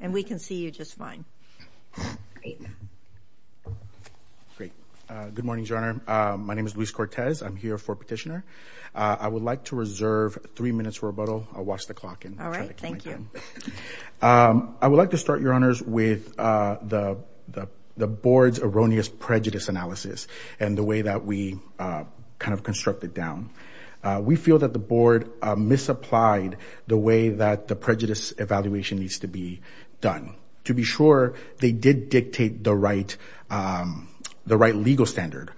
and we can see you just fine. Great. Good morning, Your Honor. My name is Luis Cortez. I'm here for petitioner. I would like to reserve three minutes for rebuttal. I'll watch the clock. All right. Thank you. I would like to start, Your Honors, with the board's erroneous prejudice analysis and the way that we kind of construct it down. We feel that the board misapplied the way that the decision was to be done. To be sure, they did dictate the right, the right legal standard.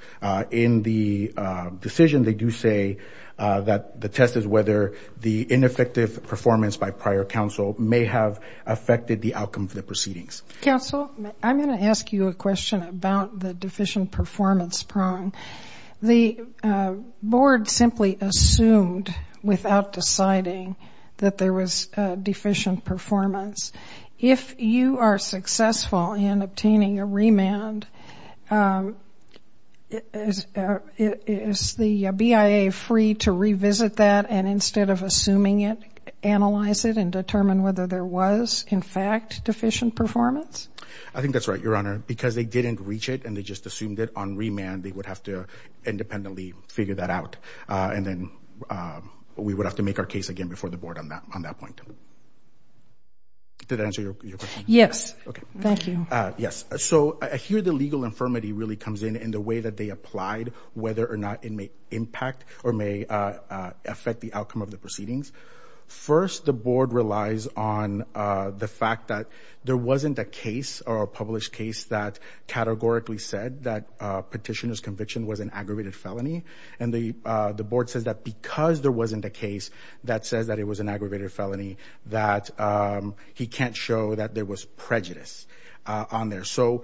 In the decision, they do say that the test is whether the ineffective performance by prior counsel may have affected the outcome of the proceedings. Counsel, I'm going to ask you a question about the deficient performance prong. The board simply assumed without deciding that there was deficient performance. If you are successful in obtaining a remand, is the BIA free to revisit that and instead of assuming it, analyze it and determine whether there was in fact deficient performance? I think that's right, Your Honor, because they didn't reach it and they just assumed that on remand they would have to independently figure that out and then we would have to make our case again before the board on that on that point. Did I answer your question? Yes, thank you. Yes, so I hear the legal infirmity really comes in in the way that they applied whether or not it may impact or may affect the outcome of the proceedings. First, the board relies on the fact that there wasn't a case or a published case that categorically said that petitioner's conviction was an aggravated felony and the board says that because there wasn't a case that says that it was an aggravated felony that he can't show that there was prejudice on there. So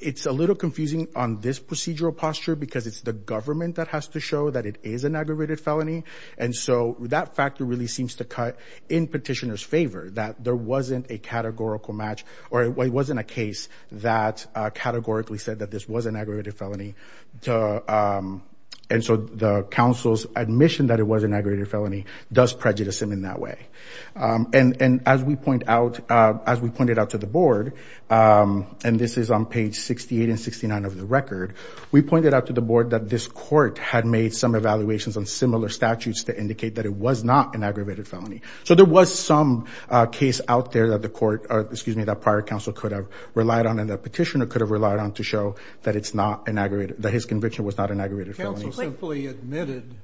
it's a little confusing on this procedural posture because it's the government that has to show that it is an aggravated felony and so that factor really seems to cut in petitioner's favor that there wasn't a categorical match or it wasn't a case that categorically said that this was an aggravated felony. So the council's admission that it was an aggravated felony does prejudice him in that way. And as we point out, as we pointed out to the board, and this is on page 68 and 69 of the record, we pointed out to the board that this court had made some evaluations on similar statutes to indicate that it was not an aggravated felony. So there was some case out there that the court, excuse me, that prior counsel could have relied on and the petitioner could have relied on to show that it's not an aggravated, that his conviction was not an aggravated felony. Counsel simply admitted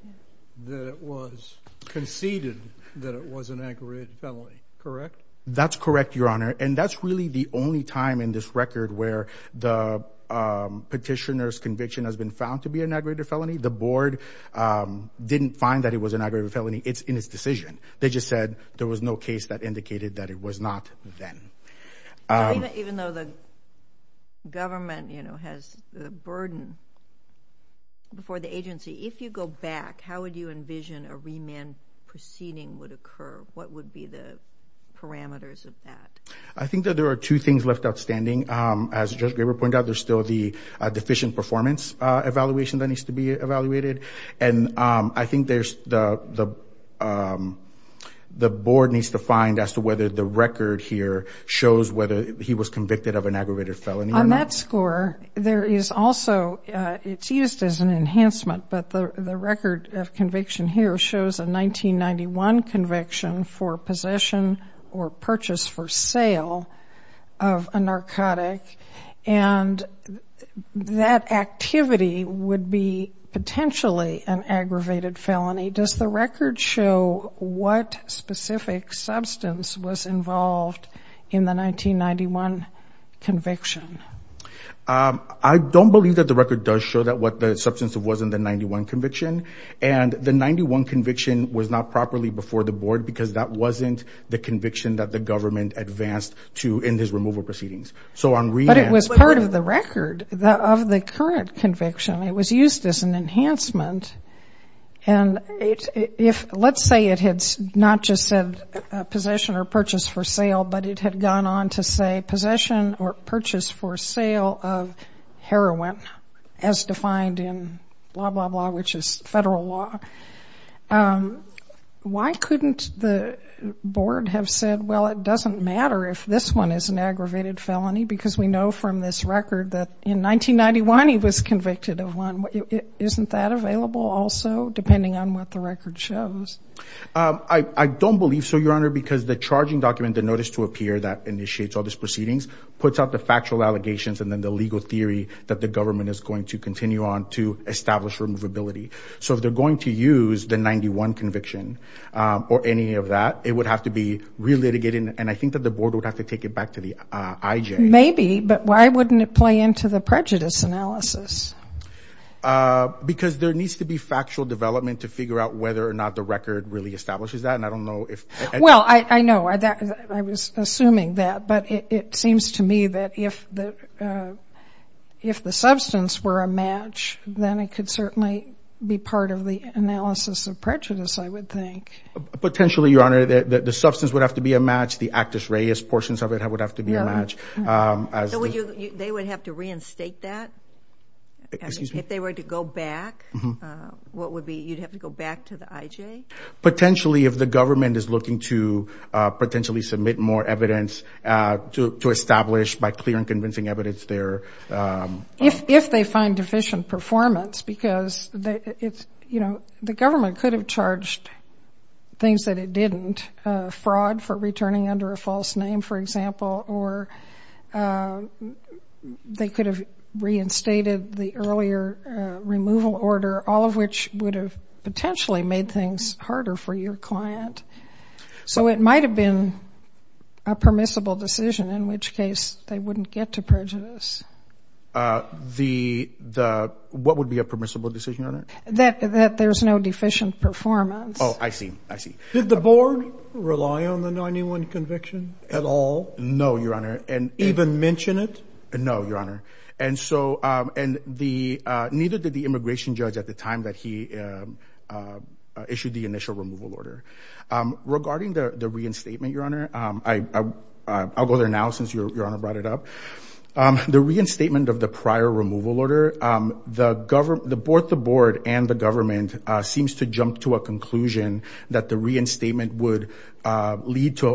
that it was, conceded that it was an aggravated felony, correct? That's correct, your honor, and that's really the only time in this record where the petitioner's conviction has been found to be an aggravated felony. The board didn't find that it was an aggravated felony. It's in his decision. They just said there was no case that indicated that it was not then. Even though the government, you know, has the burden before the agency, if you go back, how would you envision a remand proceeding would occur? What would be the parameters of that? I think that there are two things left outstanding. As Judge Graber pointed out, there's still the deficient performance evaluation that needs to be evaluated, and I think there's the, the board needs to find as to whether the record here shows whether he was convicted of an aggravated felony or not. On that score, there is also, it's used as an enhancement, but the record of conviction here shows a 1991 conviction for possession or purchase for sale of a narcotic, and that activity would be potentially an aggravated felony. Does the record show what specific substance was involved in the 1991 conviction? I don't believe that the record does show that what the substance of wasn't the 91 conviction, and the 91 conviction was not properly before the board because that wasn't the conviction that the government advanced to in his removal proceedings. So on remand... But it was part of the record of the current conviction. It was used as an enhancement, and if, let's say it had not just said possession or purchase for sale, but it had gone on to say possession or purchase for sale of heroin, as defined in blah, blah, blah, which is federal law. Why couldn't the board have said, well, it doesn't matter if this one is an aggravated felony because we Isn't that available also, depending on what the record shows? I don't believe so, Your Honor, because the charging document, the notice to appear that initiates all these proceedings, puts out the factual allegations and then the legal theory that the government is going to continue on to establish removability. So if they're going to use the 91 conviction or any of that, it would have to be relitigated, and I think that the board would have to take it Maybe, but why wouldn't it play into the prejudice analysis? Because there needs to be factual development to figure out whether or not the record really establishes that, and I don't know if... Well, I know. I was assuming that, but it seems to me that if the substance were a match, then it could certainly be part of the analysis of prejudice, I would think. Potentially, Your Honor, the substance would have to be a match. The Actus Reis portions of it would have to be a match. So they would have to reinstate that? Excuse me? If they were to go back, what would be... You'd have to go back to the IJ? Potentially, if the government is looking to potentially submit more evidence to establish by clear and convincing evidence their... If they find deficient performance, because the government could have charged things that it didn't. Fraud for returning under a false name, for example, or they could have reinstated the earlier removal order, all of which would have potentially made things harder for your client. So it might have been a permissible decision, in which case they wouldn't get to prejudice. What would be a permissible decision, Your Honor? That there's no deficient performance. Oh, I see, I see. Did the board rely on the new one conviction at all? No, Your Honor. And even mention it? No, Your Honor. And so, and neither did the immigration judge at the time that he issued the initial removal order. Regarding the reinstatement, Your Honor, I'll go there now since Your Honor brought it up. The reinstatement of the prior removal order, the board and the government seems to jump to a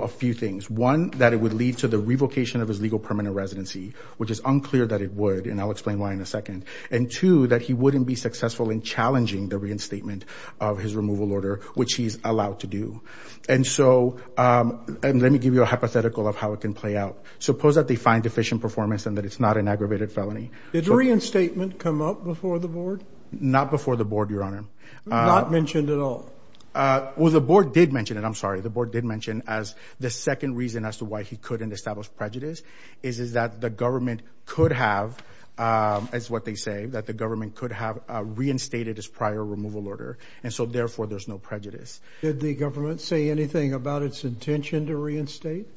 few things. One, that it would lead to the revocation of his legal permanent residency, which is unclear that it would, and I'll explain why in a second. And two, that he wouldn't be successful in challenging the reinstatement of his removal order, which he's allowed to do. And so, and let me give you a hypothetical of how it can play out. Suppose that they find deficient performance and that it's not an aggravated felony. Did the reinstatement come up before the board? Not before the board, Your Honor. Not mentioned at all? Well, the board did mention it. I'm sorry, the board did mention as the second reason as to why he couldn't establish prejudice is that the government could have, as what they say, that the government could have reinstated his prior removal order. And so, therefore, there's no prejudice. Did the government say anything about its intention to reinstate?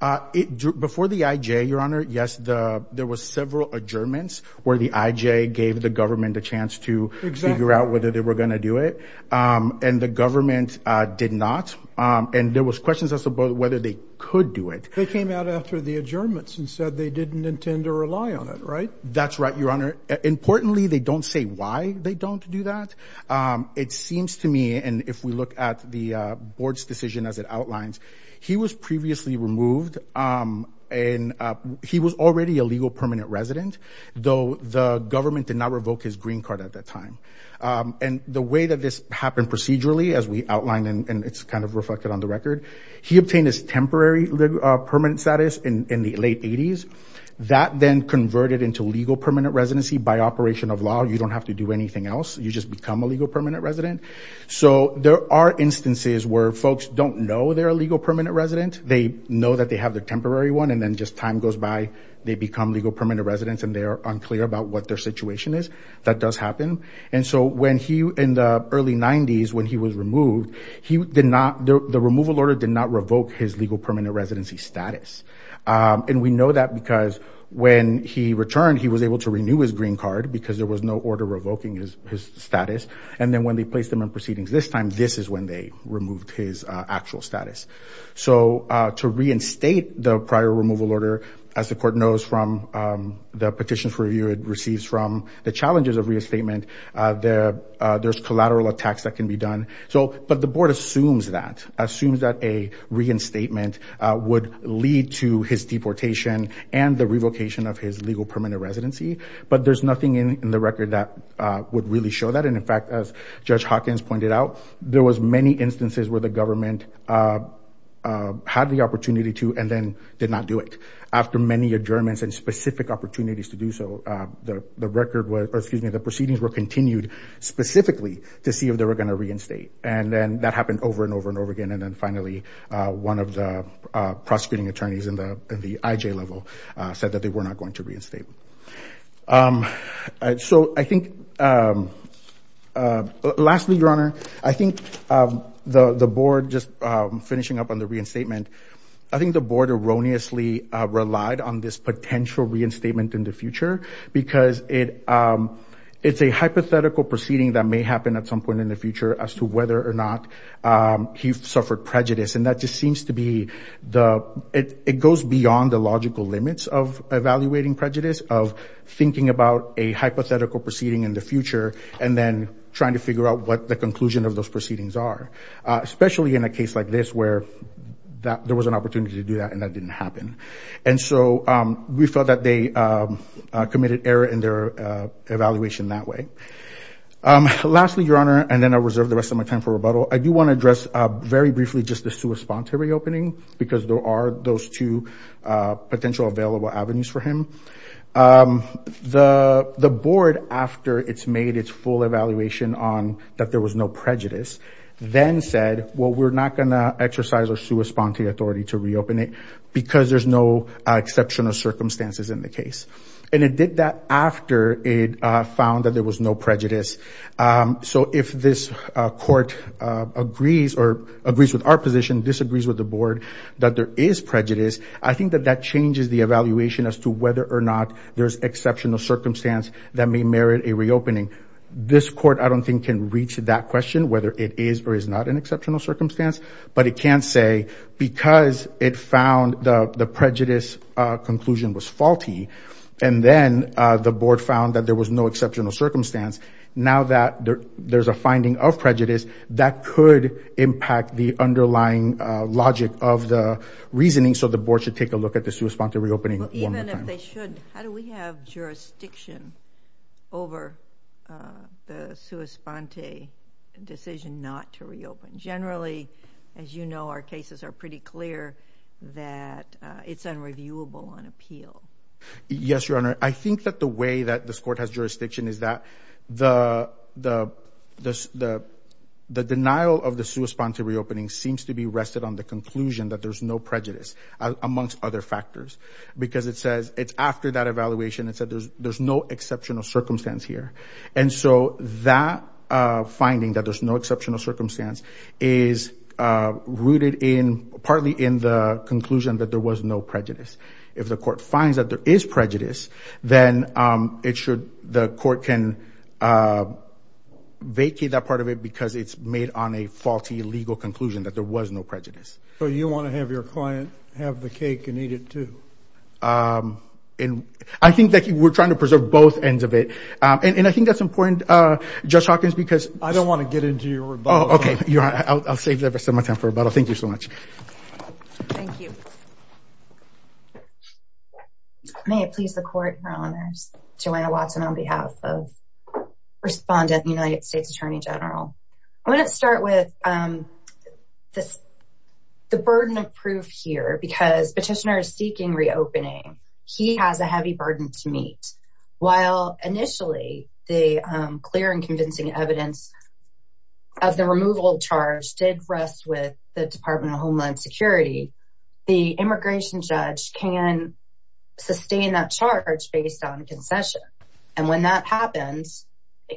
Before the IJ, Your Honor, yes, there was several adjournments where the IJ gave the government a chance to figure out whether they were going to do it, and the government did not. And there was questions as to whether they could do it. They came out after the adjournments and said they didn't intend to rely on it, right? That's right, Your Honor. Importantly, they don't say why they don't do that. It seems to me, and if we look at the board's decision as it outlines, he was previously removed, and he was already a legal permanent resident, though the government did not And the way that this happened procedurally, as we outlined, and it's kind of reflected on the record, he obtained his temporary permanent status in the late 80s. That then converted into legal permanent residency by operation of law. You don't have to do anything else. You just become a legal permanent resident. So there are instances where folks don't know they're a legal permanent resident. They know that they have their temporary one, and then just time goes by, they become legal permanent residents, and they are And he, in the early 90s, when he was removed, he did not, the removal order did not revoke his legal permanent residency status. And we know that because when he returned, he was able to renew his green card because there was no order revoking his status. And then when they placed him in proceedings this time, this is when they removed his actual status. So to reinstate the prior removal order, as the court knows from the petitions review it receives from the challenges of reinstatement, there's collateral attacks that can be done. So, but the board assumes that, assumes that a reinstatement would lead to his deportation and the revocation of his legal permanent residency. But there's nothing in the record that would really show that. And in fact, as Judge Hawkins pointed out, there was many instances where the government had the opportunity to and then did not do it. After many adjournments and specific opportunities to do so, the record was, excuse me, the proceedings were continued specifically to see if they were going to reinstate. And then that happened over and over and over again. And then finally, one of the prosecuting attorneys in the IJ level said that they were not going to reinstate. So I think, lastly, Your Honor, I think the board, just finishing up on the reinstatement, I think the board erroneously relied on this potential reinstatement in the future because it's a hypothetical proceeding that may happen at some point in the future as to whether or not he suffered prejudice. And that just seems to be the, it goes beyond the logical limits of evaluating prejudice, of thinking about a hypothetical proceeding in the future, and then trying to figure out what the conclusion of those proceedings are. Especially in a case like this where there was an opportunity to do that and that didn't happen. And so we felt that they committed error in their evaluation that way. Lastly, Your Honor, and then I reserve the rest of my time for rebuttal, I do want to address very briefly just the sua sponte reopening because there are those two potential available avenues for him. The board, after it's made its full evaluation on that there was no prejudice, then said, well, we're not going to exercise our sua sponte authority to reopen it because there's no exceptional circumstances in the case. And it did that after it found that there was no prejudice. So if this court agrees or agrees with our position, disagrees with the board that there is prejudice, I think that that changes the evaluation as to whether or not there's exceptional circumstance that may merit a reopening. This court, I don't think, can reach that question, whether it is or is not an exceptional circumstance. But it can say, because it found the prejudice conclusion was faulty, and then the board found that there was no exceptional circumstance, now that there's a finding of prejudice, that could impact the underlying logic of the reasoning. So the board should take a look at the sua sponte reopening one more time. They should. How do we have jurisdiction over the sua sponte decision not to reopen? Generally, as you know, our cases are pretty clear that it's unreviewable on appeal. Yes, Your Honor. I think that the way that this court has jurisdiction is that the denial of the sua sponte reopening seems to be rested on the conclusion that there's no prejudice, amongst other factors, because it says it's after that evaluation, it said there's no exceptional circumstance here. And so that finding, that there's no exceptional circumstance, is rooted in, partly in the conclusion that there was no prejudice. If the court finds that there is prejudice, then it should, the court can vacate that part of it because it's made on a faulty legal conclusion that there was no prejudice. So you want to have your client have the cake and eat it too? And I think that you were trying to preserve both ends of it. And I think that's important, Judge Hawkins, because... I don't want to get into your rebuttal. Okay, I'll save the rest of my time for rebuttal. Thank you so much. Thank you. May it please the Court, Your Honors, Joanna Watson on behalf of Respondent, United States Attorney General. I want to start with this, the burden of proof here, because petitioner is seeking reopening. He has a heavy burden to meet. While initially the clear and convincing evidence of the removal charge did rest with the Department of Homeland Security, the immigration judge can sustain that charge based on concession. And when that happens,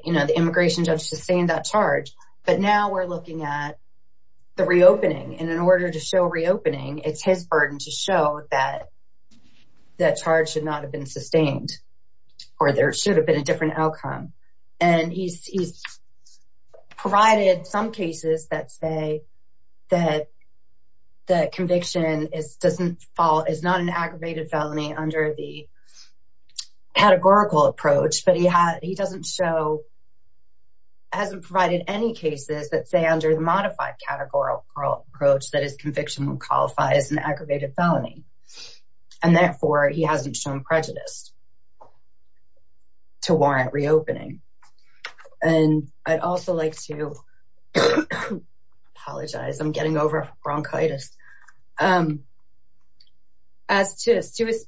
you know, the immigration judge sustained that charge, but now we're looking at the reopening, it's his burden to show that that charge should not have been sustained, or there should have been a different outcome. And he's provided some cases that say that the conviction is not an aggravated felony under the categorical approach, but he hasn't provided any cases that say under the modified categorical approach that his conviction qualifies as an aggravated felony, and therefore he hasn't shown prejudice to warrant reopening. And I'd also like to apologize, I'm getting over bronchitis. As to prejudice,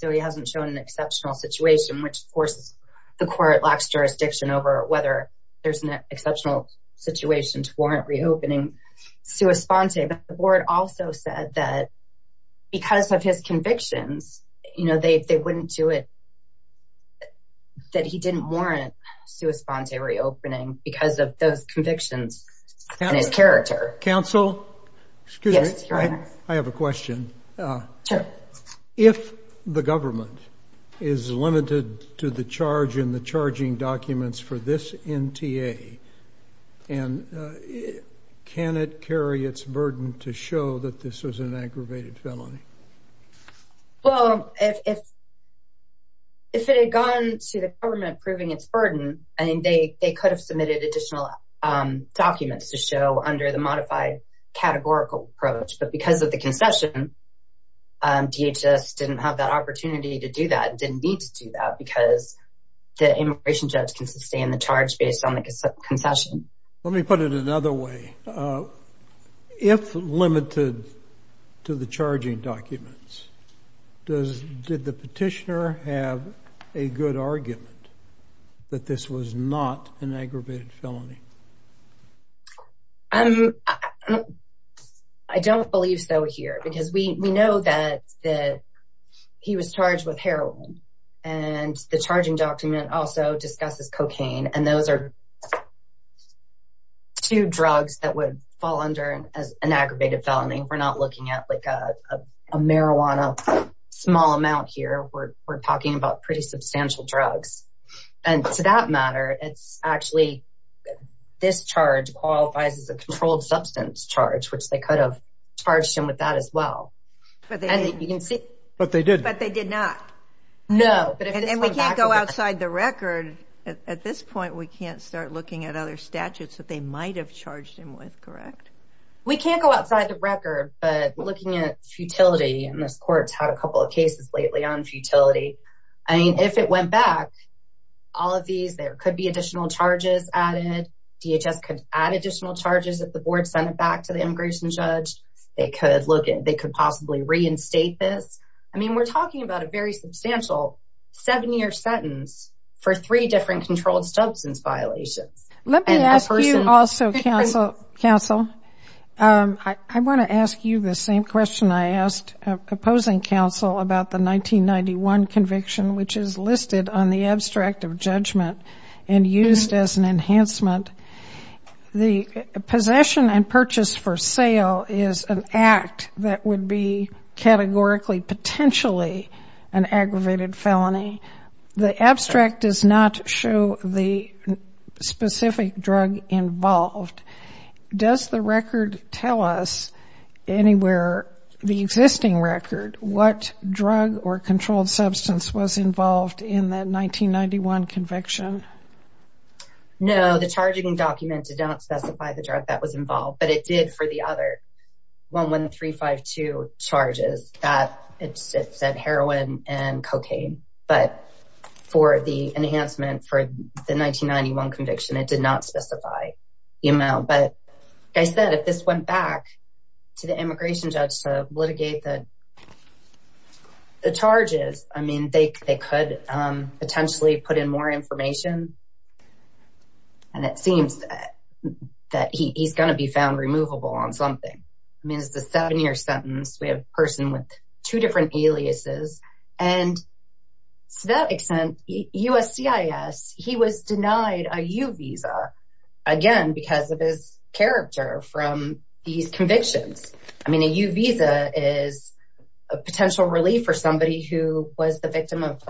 so he hasn't shown an exceptional situation, which forces the court lax jurisdiction over whether there's an exceptional situation to warrant reopening. Sua Sponte, the board also said that because of his convictions, you know, they wouldn't do it, that he didn't warrant Sua Sponte reopening because of those convictions and his character. Counsel, excuse me, I have a question. If the government is limited to the charge in the charging documents for this NTA, and can it carry its burden to show that this was an aggravated felony? Well, if it had gone to the government proving its burden, I mean, they could have submitted additional documents to show under the modified categorical approach, but because of the concession, DHS didn't have that opportunity to do that, didn't need to do that, because the immigration judge can sustain the charge based on the concession. Let me put it another way. If limited to the charging documents, did the government have the ability to show that this was an aggravated felony? I don't believe so here, because we know that he was charged with heroin, and the charging document also discusses cocaine, and those are two drugs that would fall under an aggravated felony. We're not looking at like a marijuana small amount here. We're talking about pretty substantial drugs. And to that matter, it's actually, this charge qualifies as a controlled substance charge, which they could have charged him with that as well. But they did not. No. And we can't go outside the record. At this point, we can't start looking at other statutes that they might have charged him with, correct? We can't go outside the record. But looking at futility, and this court's had a couple of cases lately on futility. I mean, if it went back, all of these, there could be additional charges added. DHS could add additional charges if the board sent it back to the immigration judge. They could possibly reinstate this. I mean, we're talking about a very substantial seven-year sentence for three different controlled substance violations. Let me ask you also, counsel, I want to ask you the same question I asked opposing counsel about the 1991 conviction, which is listed on the abstract of judgment and used as an enhancement. The possession and purchase for sale is an act that would be categorically potentially an aggravated felony. The abstract does not show the specific drug involved. Does the record tell us anywhere the existing record, what drug or controlled substance was involved in that 1991 conviction? No, the charging document did not specify the drug that was involved, but it did for the other 11352 charges that it said heroin and cocaine. But for the enhancement for the 1991 conviction, it did not specify the amount. But as I said, if this went back to the immigration judge to litigate the charges, I mean, they could potentially put in more information. And it seems that he's going to be found removable on something. I mean, it's the seven-year sentence. We have a person with two different aliases. And to that extent, USCIS, he was denied a U visa, again, because of his character from these convictions. I mean, a U visa is a potential relief for somebody who was the victim of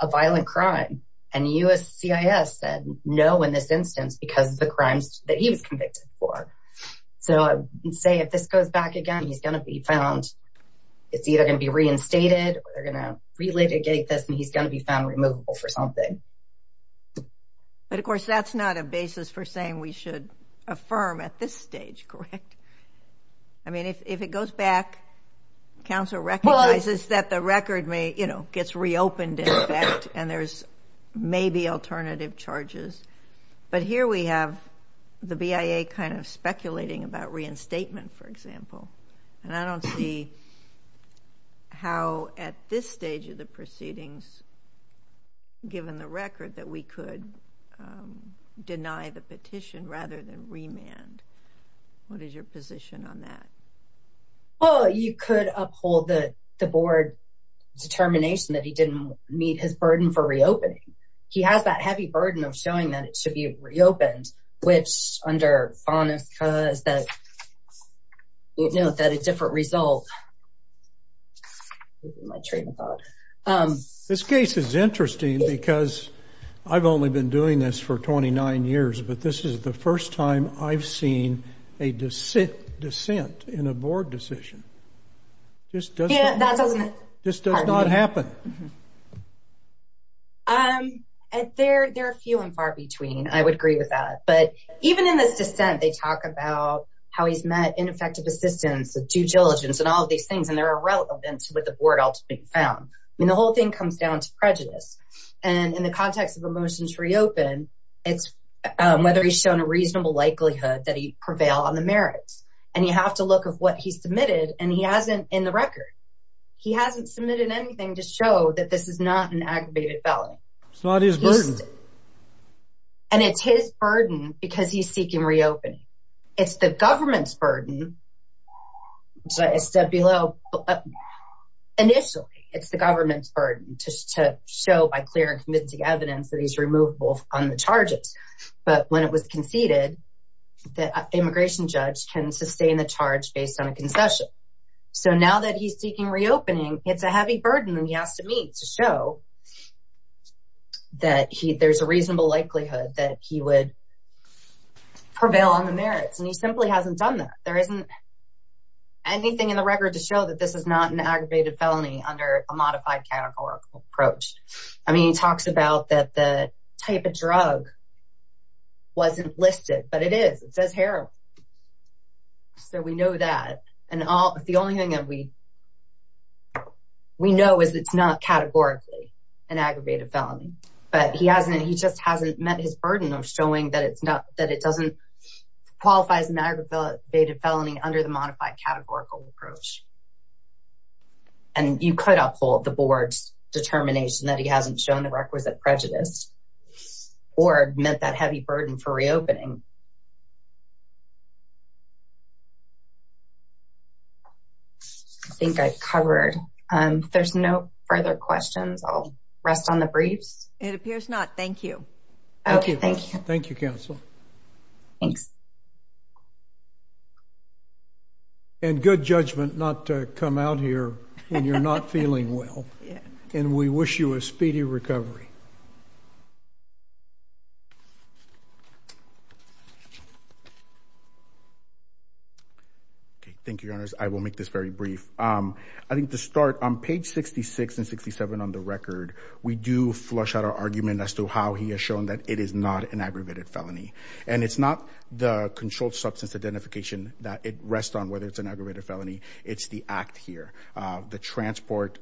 a violent crime. And USCIS said no in this instance, because of the crimes that he was convicted for. So say if this goes back again, he's going to be found, it's either going to be reinstated, or they're going to relitigate this and he's going to be found removable for something. But of course, that's not a basis for saying we should affirm at this stage, correct? I mean, if it goes back, counsel recognizes that the record may, you know, gets reopened, in fact, and there's maybe alternative charges. But here we have the BIA kind of speculating about reinstatement, for example. And I don't see how at this stage of the proceedings, given the record that we could deny the petition rather than remand. What is your position on that? Oh, you could uphold the board determination that he didn't meet his burden for reopening. He has that heavy burden of showing that it should be upheld. This case is interesting, because I've only been doing this for 29 years. But this is the first time I've seen a dissent in a board decision. This does not happen. Um, there are few and far between. I would agree with that. But even in this system, the due diligence and all of these things, and there are relevance with the board ultimately being found. I mean, the whole thing comes down to prejudice. And in the context of a motion to reopen, it's whether he's shown a reasonable likelihood that he'd prevail on the merits. And you have to look at what he submitted, and he hasn't in the record. He hasn't submitted anything to show that this is not an aggravated felony. It's not his burden. And it's his burden because he's seeking reopening. It's the government's burden. Initially, it's the government's burden to show by clear and convincing evidence that he's removable on the charges. But when it was conceded, the immigration judge can sustain the charge based on a concession. So now that he's seeking reopening, it's a heavy burden that he has to meet to show that there's a reasonable likelihood that he would anything in the record to show that this is not an aggravated felony under a modified categorical approach. I mean, he talks about that the type of drug wasn't listed, but it is. It says heroin. So we know that. And the only thing that we we know is it's not categorically an aggravated felony. But he just hasn't met his burden of showing that it doesn't qualify as an aggravated felony under the modified categorical approach. And you could uphold the board's determination that he hasn't shown the requisite prejudice or met that heavy burden for reopening. I think I've covered. There's no further questions. I'll rest on the briefs. It appears not. Thank you. Thank you. Thank you. Thank you, counsel. Thanks. And good judgment not to come out here when you're not feeling well. And we wish you a speedy recovery. Thank you, Your Honors. I will make this very brief. I think to start on page 66 and 67 on the record, we do flush out our argument as to how he has shown that it is not an aggravated felony. And it's not the controlled substance identification that it rests on, whether it's an aggravated felony. It's the act here. The transport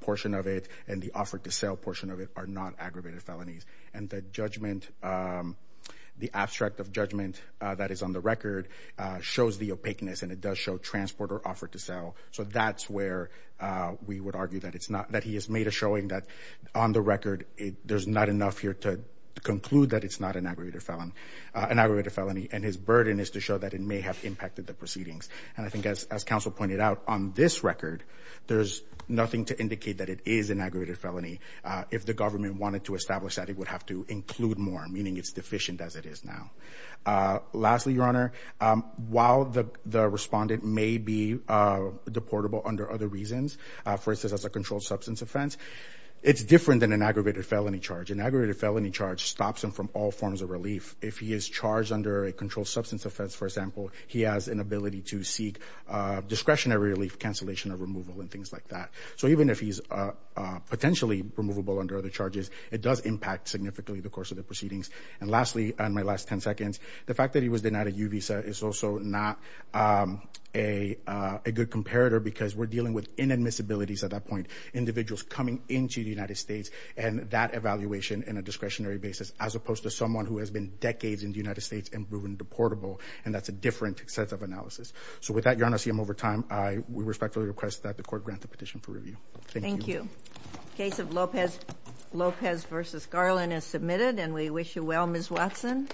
portion of it and the offer to sell portion of it are not aggravated felonies. And the judgment, the abstract of judgment that is on the record shows the opaqueness. And it does show transport or offer to sell. So that's where we would argue that it's not that he has made a showing that on the record, there's not enough here to conclude that it's not an aggravated felony. An aggravated felony and his burden is to show that it may have impacted the proceedings. And I think as as counsel pointed out on this record, there's nothing to indicate that it is an aggravated felony. If the government wanted to establish that it would have to include more, meaning it's deficient as it is now. Lastly, Your Honor, while the respondent may be deportable under other reasons, for instance, as a controlled substance offense, it's different than an aggravated felony charge. An aggravated felony charge stops him from all the controlled substance offense. For example, he has an ability to seek discretionary relief, cancellation of removal and things like that. So even if he's potentially removable under other charges, it does impact significantly the course of the proceedings. And lastly, on my last 10 seconds, the fact that he was denied a U visa is also not a good comparator because we're dealing with inadmissibilities at that point, individuals coming into the United States and that evaluation in a discretionary basis, as opposed to someone who has been decades in the deportable, and that's a different set of analysis. So with that, Your Honor, I see I'm over time. We respectfully request that the court grant the petition for review. Thank you. Thank you. Case of Lopez versus Garland is submitted and we wish you well, Ms. Watson.